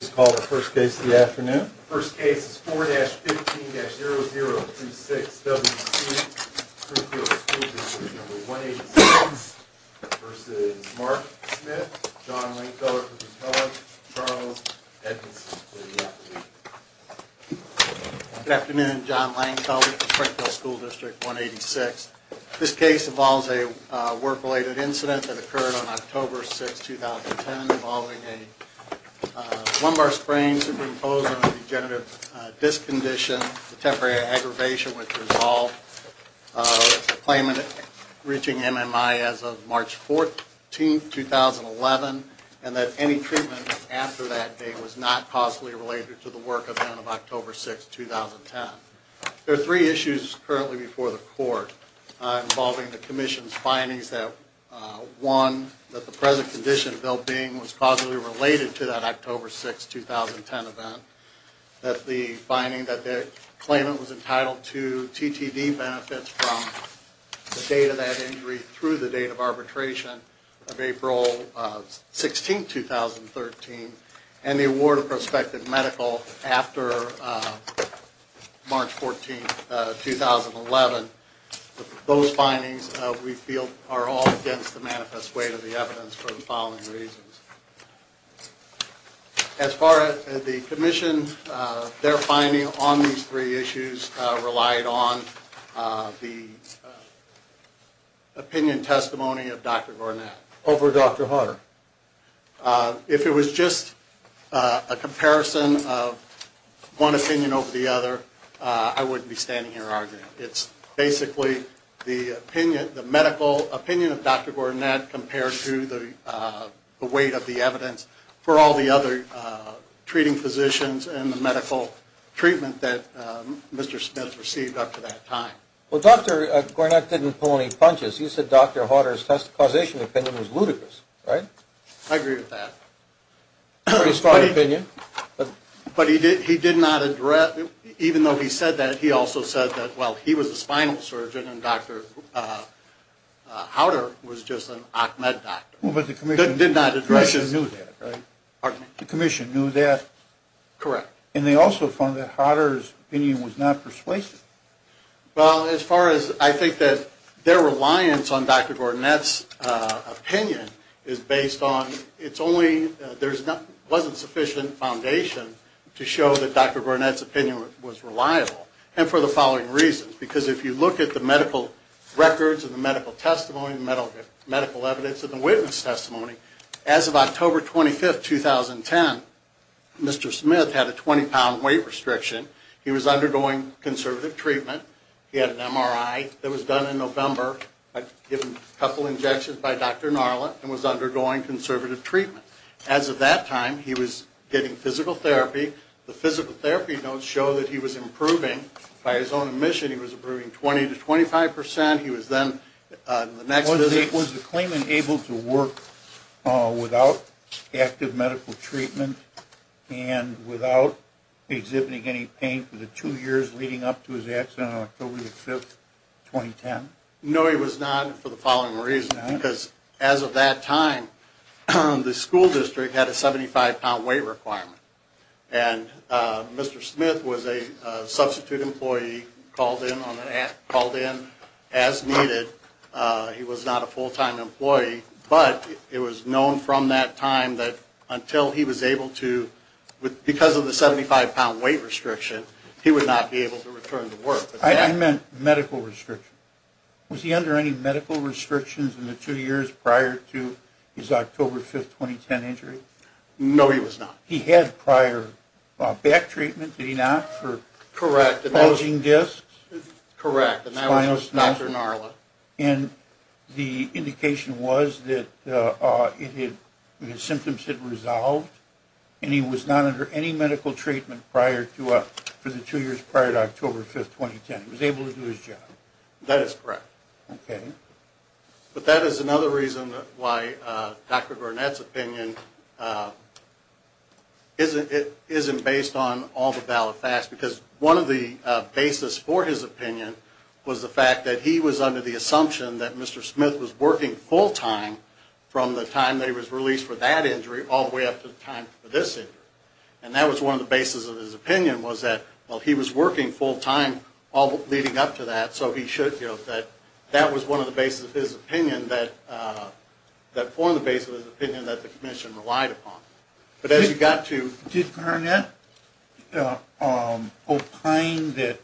This is called the first case of the afternoon. The first case is 4-15-0026 W.C. Springfield School District No. 186 v. Mark Smith, John Langfeller, Charles Edmonds, and Lydia. Good afternoon. John Langfeller with the Springfield School District 186. This case involves a work-related incident that occurred on October 6, 2010, involving a lumbar sprain, superimposed on a degenerative disc condition, a temporary aggravation with resolve, a claimant reaching MMI as of March 14, 2011, and that any treatment after that date was not causally related to the work event of October 6, 2010. There are three issues currently before the court involving the commission's findings that, one, that the present condition of ill-being was causally related to that October 6, 2010 event, that the finding that the claimant was entitled to TTD benefits from the date of that injury through the date of arbitration of April 16, 2013, and the award of prospective medical after March 14, 2011. Those findings, we feel, are all against the manifest weight of the evidence for the following reasons. As far as the commission, their finding on these three issues relied on the opinion testimony of Dr. Gornat. Over Dr. Harder. If it was just a comparison of one opinion over the other, I wouldn't be standing here arguing. It's basically the medical opinion of Dr. Gornat compared to the weight of the evidence for all the other treating physicians and the medical treatment that Mr. Smith received up to that time. Well, Dr. Gornat didn't pull any punches. He said Dr. Harder's causation opinion was ludicrous, right? I agree with that. Pretty strong opinion. But he did not address, even though he said that, he also said that, well, he was a spinal surgeon and Dr. Harder was just an OCMED doctor. But the commission knew that, right? The commission knew that. Correct. And they also found that Harder's opinion was not persuasive. Well, as far as I think that their reliance on Dr. Gornat's opinion is based on, it's only there wasn't sufficient foundation to show that Dr. Gornat's opinion was reliable. And for the following reasons. Because if you look at the medical records and the medical testimony, the medical evidence and the witness testimony, as of October 25, 2010, Mr. Smith had a 20-pound weight restriction. He was undergoing conservative treatment. He had an MRI that was done in November, given a couple injections by Dr. Gnarlett, and was undergoing conservative treatment. As of that time, he was getting physical therapy. The physical therapy notes show that he was improving. By his own admission, he was improving 20 to 25 percent. He was then on the next visit. Was the claimant able to work without active medical treatment and without exhibiting any pain for the two years leading up to his accident on October 5, 2010? No, he was not for the following reasons. Because as of that time, the school district had a 75-pound weight requirement. And Mr. Smith was a substitute employee, called in as needed. He was not a full-time employee. But it was known from that time that until he was able to, because of the 75-pound weight restriction, he would not be able to return to work. I meant medical restriction. Was he under any medical restrictions in the two years prior to his October 5, 2010 injury? No, he was not. He had prior back treatment, did he not, for bulging discs? Correct. And that was Dr. Narla. And the indication was that his symptoms had resolved, and he was not under any medical treatment for the two years prior to October 5, 2010. He was able to do his job. That is correct. Okay. But that is another reason why Dr. Burnett's opinion isn't based on all the valid facts. Because one of the basis for his opinion was the fact that he was under the assumption that Mr. Smith was working full-time from the time that he was released for that injury all the way up to the time for this injury. And that was one of the basis of his opinion was that, well, he was working full-time leading up to that, so he should feel that that was one of the basis of his opinion that the commission relied upon. But as you got to... Did Burnett opine that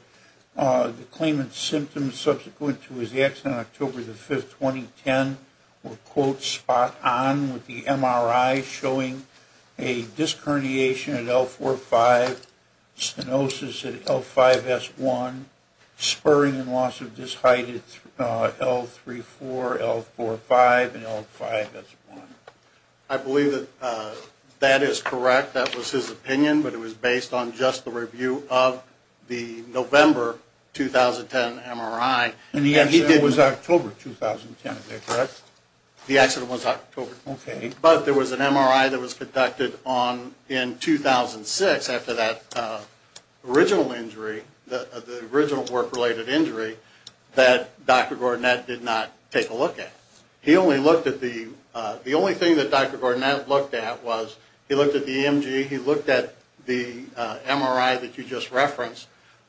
the claimant's symptoms subsequent to his accident on October 5, 2010 were, quote, spot on with the MRI showing a disc herniation at L4-5, stenosis at L5-S1, spurring and loss of disc height at L3-4, L4-5, and L5-S1? I believe that that is correct. That was his opinion, but it was based on just the review of the November 2010 MRI. And the accident was October 2010, is that correct? The accident was October. Okay. But there was an MRI that was conducted in 2006 after that original injury, the original work-related injury, that Dr. Burnett did not take a look at. He only looked at the... The only thing that Dr. Burnett looked at was he looked at the EMG, he looked at the MRI that you just referenced,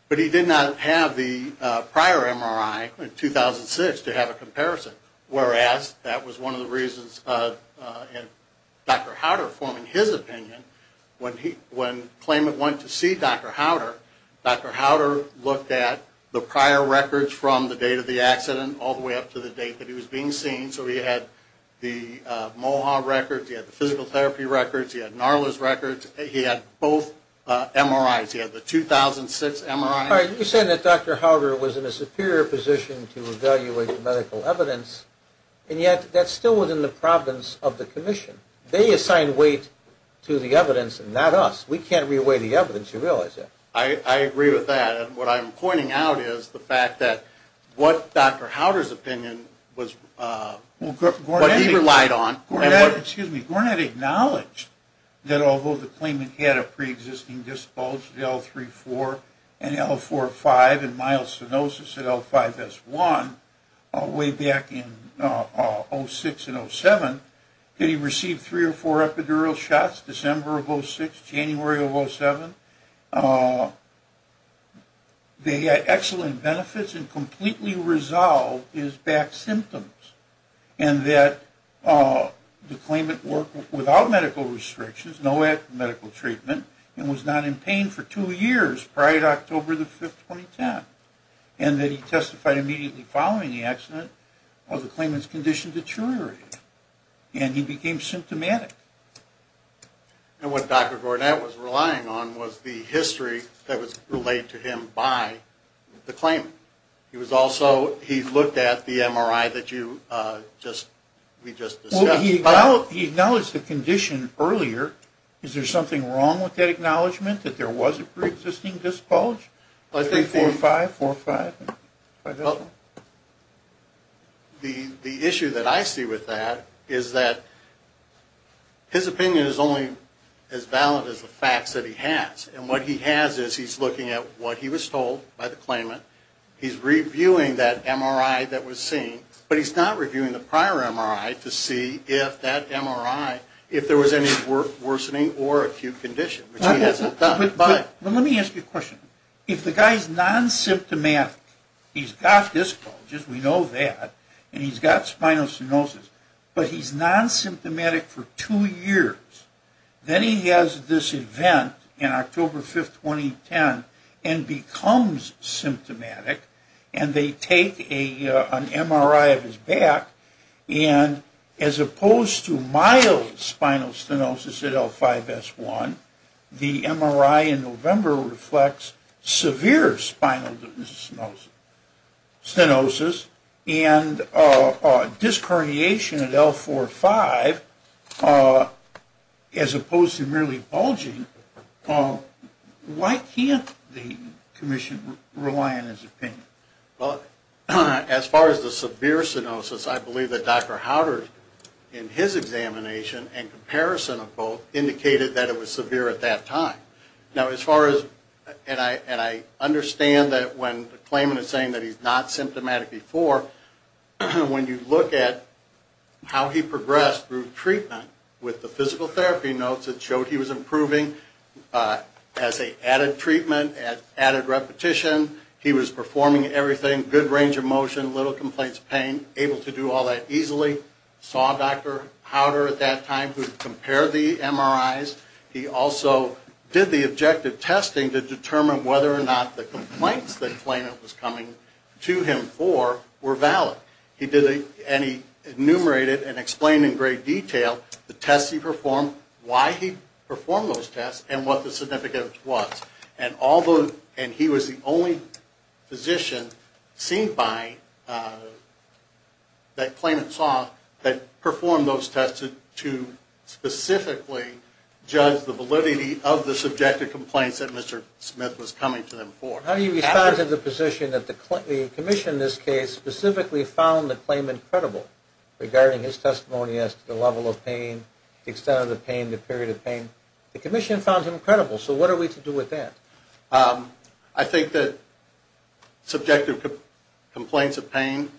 but he did not have the prior MRI in 2006 to have a comparison, whereas that was one of the reasons Dr. Howder formed his opinion. When claimant went to see Dr. Howder, Dr. Howder looked at the prior records from the date of the accident all the way up to the date that he was being seen. So he had the MOHA records, he had the physical therapy records, he had NARLA's records. He had both MRIs. He had the 2006 MRI. You're saying that Dr. Howder was in a superior position to evaluate the medical evidence, and yet that's still within the providence of the commission. They assign weight to the evidence and not us. We can't re-weigh the evidence, you realize that. I agree with that. What I'm pointing out is the fact that what Dr. Howder's opinion was what he relied on. Excuse me. Burnett acknowledged that although the claimant had a preexisting disability, L3-4 and L4-5 and mild stenosis at L5-S1 way back in 2006 and 2007, that he received three or four epidural shots December of 2006, January of 2007. They had excellent benefits and completely resolved his back symptoms, and that the claimant worked without medical restrictions, no medical treatment, and was not in pain for two years prior to October the 5th, 2010, and that he testified immediately following the accident of the claimant's condition deteriorating, and he became symptomatic. And what Dr. Burnett was relying on was the history that was relayed to him by the claimant. He was also, he looked at the MRI that you just, we just discussed. Well, he acknowledged the condition earlier. Is there something wrong with that acknowledgment that there was a preexisting disability? L3-4-5, L4-5, L5-S1. The issue that I see with that is that his opinion is only as valid as the facts that he has, and what he has is he's looking at what he was told by the claimant. He's reviewing that MRI that was seen, but he's not reviewing the prior MRI to see if that MRI, if there was any worsening or acute condition, which he hasn't done. But let me ask you a question. If the guy's non-symptomatic, he's got disc bulges, we know that, and he's got spinal stenosis, but he's non-symptomatic for two years, then he has this event in October 5th, 2010, and becomes symptomatic, and they take an MRI of his back, and as opposed to mild spinal stenosis at L5-S1, the MRI in November reflects severe spinal stenosis, and disc herniation at L4-5, as opposed to merely bulging, why can't the commission rely on his opinion? Well, as far as the severe stenosis, I believe that Dr. Howard, in his examination and comparison of both, indicated that it was severe at that time. Now, as far as, and I understand that when the claimant is saying that he's not symptomatic before, when you look at how he progressed through treatment, with the physical therapy notes that showed he was improving, as they added treatment, added repetition, he was performing everything, good range of motion, little complaints of pain, able to do all that easily, saw Dr. Howard at that time who compared the MRIs, he also did the objective testing to determine whether or not the complaints the claimant was coming to him for were valid. He did, and he enumerated and explained in great detail the tests he performed, why he performed those tests, and what the significance was. And he was the only physician seen by, that claimant saw, that performed those tests to specifically judge the validity of the subjective complaints that Mr. Smith was coming to them for. How do you respond to the position that the commission in this case specifically found the claimant credible regarding his testimony as to the level of pain, the extent of the pain, the period of pain? The commission found him credible, so what are we to do with that? I think that subjective complaints of pain,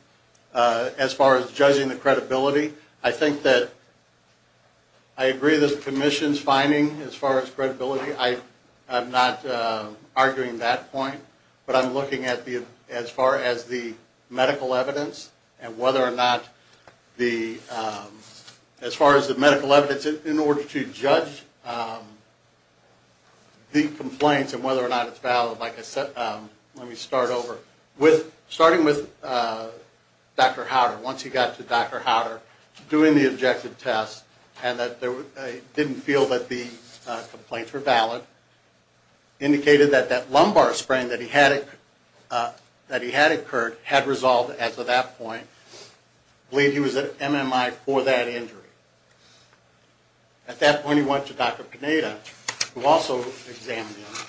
as far as judging the credibility, I think that I agree with the commission's finding as far as credibility. I'm not arguing that point, but I'm looking at the, as far as the medical evidence, and whether or not the, as far as the medical evidence, in order to judge the complaints and whether or not it's valid, like I said, let me start over. Starting with Dr. Howder, once he got to Dr. Howder, doing the objective tests, and that he didn't feel that the complaints were valid, indicated that that lumbar sprain that he had incurred had resolved at that point, believed he was at MMI for that injury. At that point he went to Dr. Panetta, who also examined him,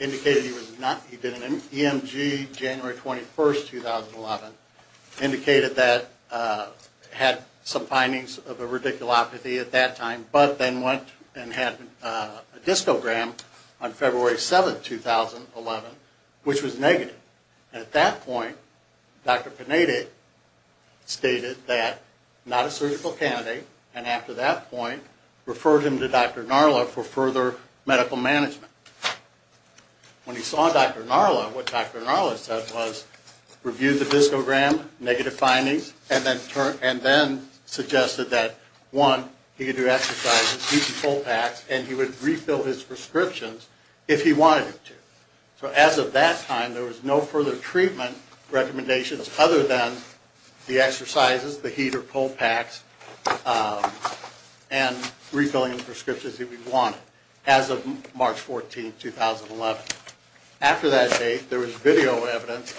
indicated he was not, he did an EMG January 21st, 2011, indicated that he had some findings of a radiculopathy at that time, but then went and had a discogram on February 7th, 2011, which was negative. At that point, Dr. Panetta stated that, not a surgical candidate, and after that point referred him to Dr. Narla for further medical management. When he saw Dr. Narla, what Dr. Narla said was, reviewed the discogram, negative findings, and then suggested that, one, he could do exercises, heat and pull packs, and he would refill his prescriptions if he wanted to. So as of that time, there was no further treatment recommendations other than the exercises, the heat or pull packs, and refilling the prescriptions if he wanted, as of March 14th, 2011. After that date, there was video evidence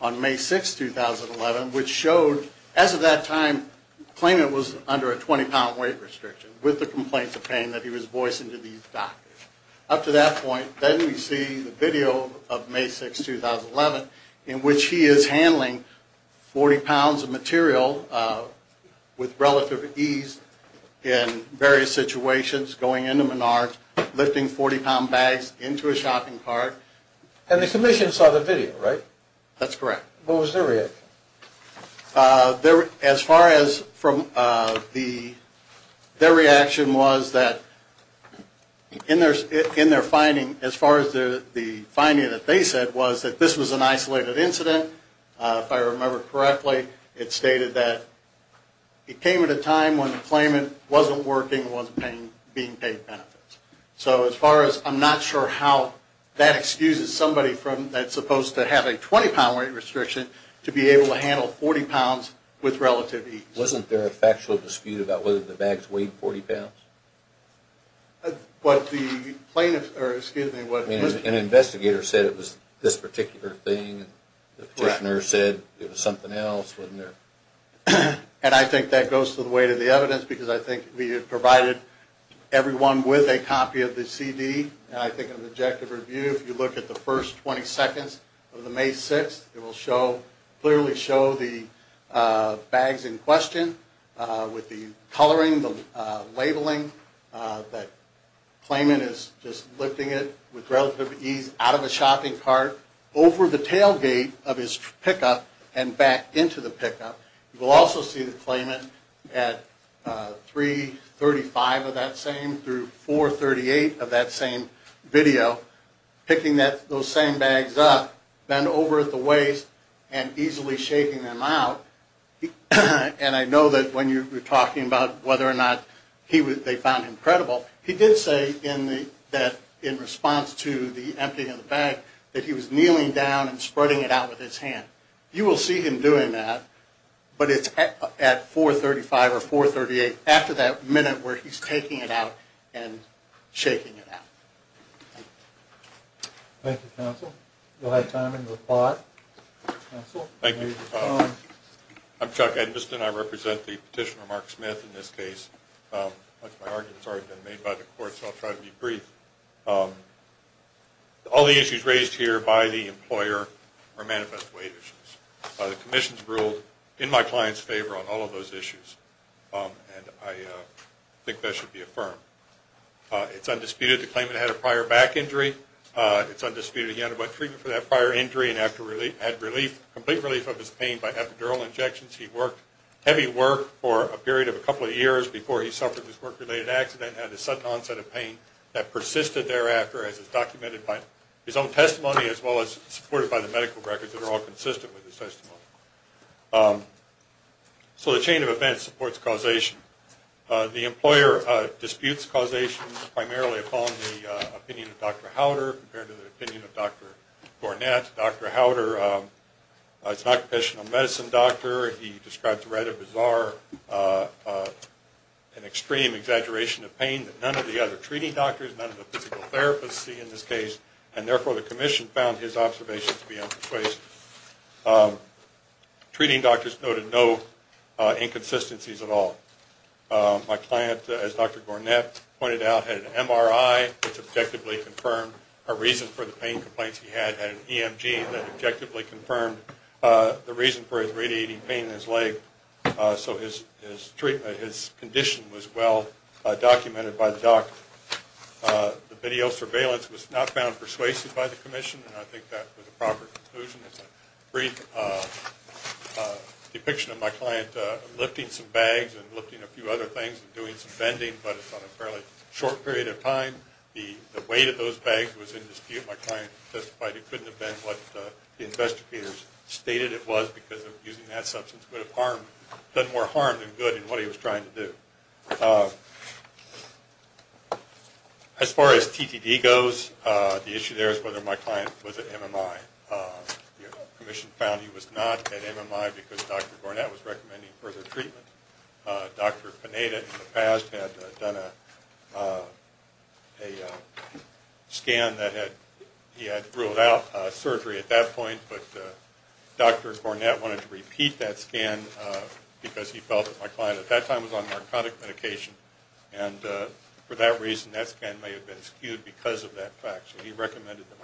on May 6th, 2011, which showed, as of that time, the claimant was under a 20-pound weight restriction, with the complaints of pain that he was voicing to these doctors. Up to that point, then we see the video of May 6th, 2011, in which he is handling 40 pounds of material with relative ease in various situations, going into Menards, lifting 40-pound bags into a shopping cart. And the Commission saw the video, right? That's correct. What was their reaction? As far as from the, their reaction was that, in their finding, as far as the finding that they said was that this was an isolated incident, if I remember correctly, it stated that it came at a time when the claimant wasn't working and wasn't being paid benefits. So as far as, I'm not sure how that excuses somebody that's supposed to have a 20-pound weight restriction to be able to handle 40 pounds with relative ease. Wasn't there a factual dispute about whether the bags weighed 40 pounds? What the plaintiff, or excuse me, what... I mean, an investigator said it was this particular thing, and the petitioner said it was something else, wasn't there? And I think that goes to the weight of the evidence because I think we have provided everyone with a copy of the CD, and I think an objective review, if you look at the first 20 seconds of the May 6th, it will clearly show the bags in question with the coloring, the labeling that claimant is just lifting it with relative ease out of a shopping cart, over the tailgate of his pickup, and back into the pickup. You will also see the claimant at 3.35 of that same through 4.38 of that same video, picking those same bags up, bend over at the waist, and easily shaking them out. And I know that when you're talking about whether or not they found him credible, he did say in response to the emptying of the bag that he was kneeling down and spreading it out with his hand. You will see him doing that, but it's at 4.35 or 4.38, after that minute where he's taking it out and shaking it out. Thank you. Thank you, counsel. We'll have time in the pot. Thank you. I'm Chuck Edmiston. I represent the petitioner, Mark Smith, in this case. Much of my argument has already been made by the court, so I'll try to be brief. All the issues raised here by the employer are manifest weight issues. The commission has ruled in my client's favor on all of those issues, and I think that should be affirmed. It's undisputed the claimant had a prior back injury. It's undisputed he underwent treatment for that prior injury and had complete relief of his pain by epidural injections. He worked heavy work for a period of a couple of years before he suffered this work-related accident and had a sudden onset of pain that persisted thereafter, as is documented by his own testimony, as well as supported by the medical records that are all consistent with his testimony. So the chain of events supports causation. The employer disputes causation primarily upon the opinion of Dr. Howder compared to the opinion of Dr. Gornett. Dr. Howder is an occupational medicine doctor. He describes a rather bizarre and extreme exaggeration of pain that none of the other treating doctors, none of the physical therapists see in this case, and therefore the commission found his observations to be unperceived. Treating doctors noted no inconsistencies at all. My client, as Dr. Gornett pointed out, had an MRI that's objectively confirmed. A reason for the pain complaints he had had an EMG that objectively confirmed. The reason for his radiating pain in his leg. So his treatment, his condition was well documented by the doctor. The video surveillance was not found persuasive by the commission, and I think that was a proper conclusion. It's a brief depiction of my client lifting some bags and lifting a few other things and doing some bending, but it's on a fairly short period of time. The weight of those bags was in dispute. My client testified it couldn't have been what the investigators stated it was because using that substance would have done more harm than good in what he was trying to do. As far as TTD goes, the issue there is whether my client was at MMI. The commission found he was not at MMI because Dr. Gornett was recommending further treatment. Dr. Panetta in the past had done a scan that he had ruled out surgery at that point, but Dr. Gornett wanted to repeat that scan because he felt that my client at that time was on narcotic medication, and for that reason that scan may have been skewed because of that fact.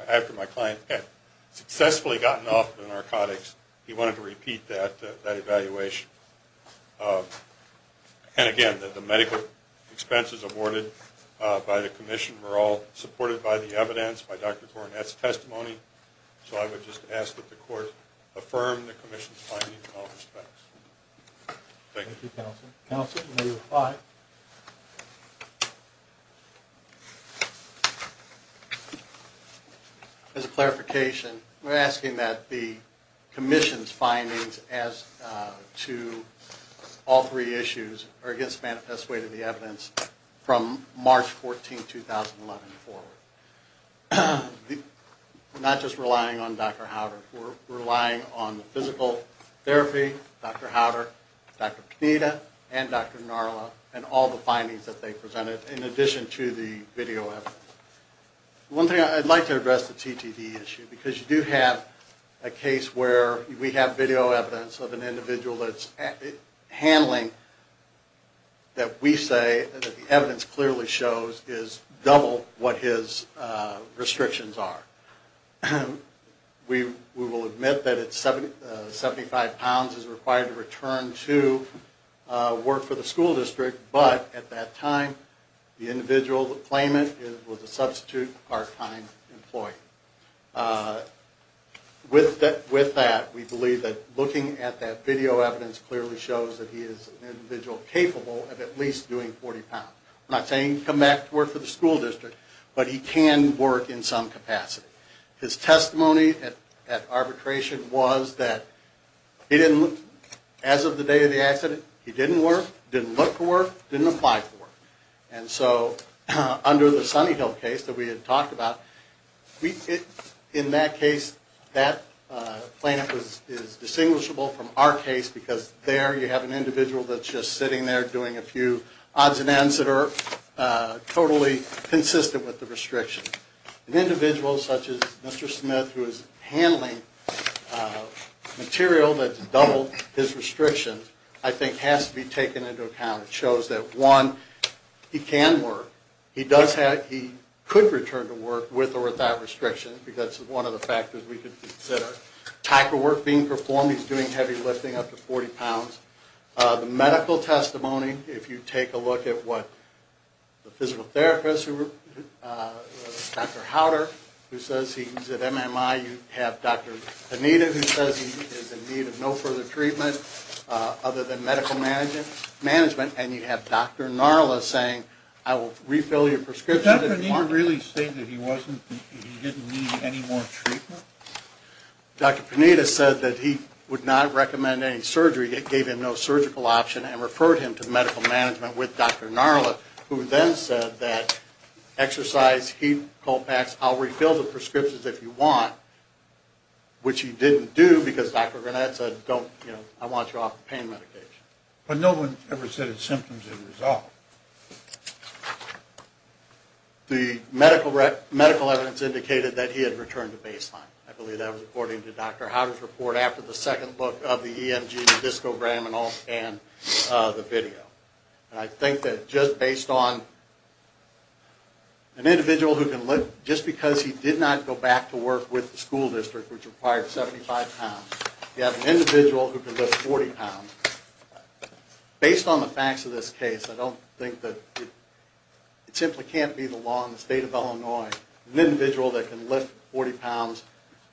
After my client had successfully gotten off the narcotics, he wanted to repeat that evaluation. And again, the medical expenses awarded by the commission were all supported by the evidence, by Dr. Gornett's testimony, so I would just ask that the court affirm the commission's findings in all respects. Thank you. Thank you, counsel. Counsel, you may reply. As a clarification, I'm asking that the commission's findings as to all three issues are against manifest way to the evidence from March 14, 2011 forward. Not just relying on Dr. Howder, relying on physical therapy, Dr. Howder, Dr. Panetta, and Dr. Narla, and all the findings that they presented in addition to the video evidence. One thing I'd like to address the TTD issue because you do have a case where we have video evidence of an individual that's handling that we say that the evidence clearly shows is double what his restrictions are. We will admit that it's 75 pounds is required to return to work for the school district, but at that time the individual that claimed it was a substitute part-time employee. With that, we believe that looking at that video evidence clearly shows that he is an individual capable of at least doing 40 pounds. I'm not saying come back to work for the school district, but he can work in some capacity. His testimony at arbitration was that he didn't, as of the day of the accident, he didn't work, didn't look for work, didn't apply for work. And so under the Sunny Hill case that we had talked about, in that case, that plaintiff is distinguishable from our case because there you have an individual that's just sitting there doing a few odds and ends that are totally consistent with the restrictions. An individual such as Mr. Smith who is handling material that's double his restrictions, I think has to be taken into account. It shows that, one, he can work. He does have, he could return to work with or without restrictions, because that's one of the factors we could consider. Type of work being performed, he's doing heavy lifting up to 40 pounds. The medical testimony, if you take a look at what the physical therapist, Dr. Howder, who says he's at MMI, you have Dr. Anita who says he is in need of no further treatment. Other than medical management. And you have Dr. Narla saying, I will refill your prescription. Did Dr. Anita really say that he didn't need any more treatment? Dr. Anita said that he would not recommend any surgery. It gave him no surgical option and referred him to medical management with Dr. Narla, who then said that exercise, heat, cold packs, I'll refill the prescriptions if you want. Which he didn't do, because Dr. Garnett said, I want you off the pain medication. But no one ever said his symptoms didn't resolve. The medical evidence indicated that he had returned to baseline. I believe that was according to Dr. Howder's report after the second book of the EMG, the discogram and all, and the video. And I think that just based on an individual who can look, just because he did not go back to work with the school district, which required 75 pounds, you have an individual who can lift 40 pounds, based on the facts of this case, I don't think that it simply can't be the law in the state of Illinois, an individual that can lift 40 pounds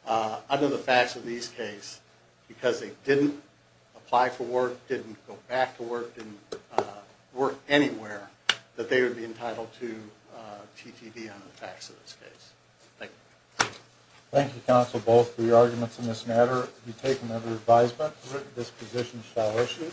under the facts of these cases, because they didn't apply for work, didn't go back to work, didn't work anywhere, that they would be entitled to TTP under the facts of this case. Thank you. Thank you, counsel, both for your arguments in this matter. If you take another advisement, this position shall issue.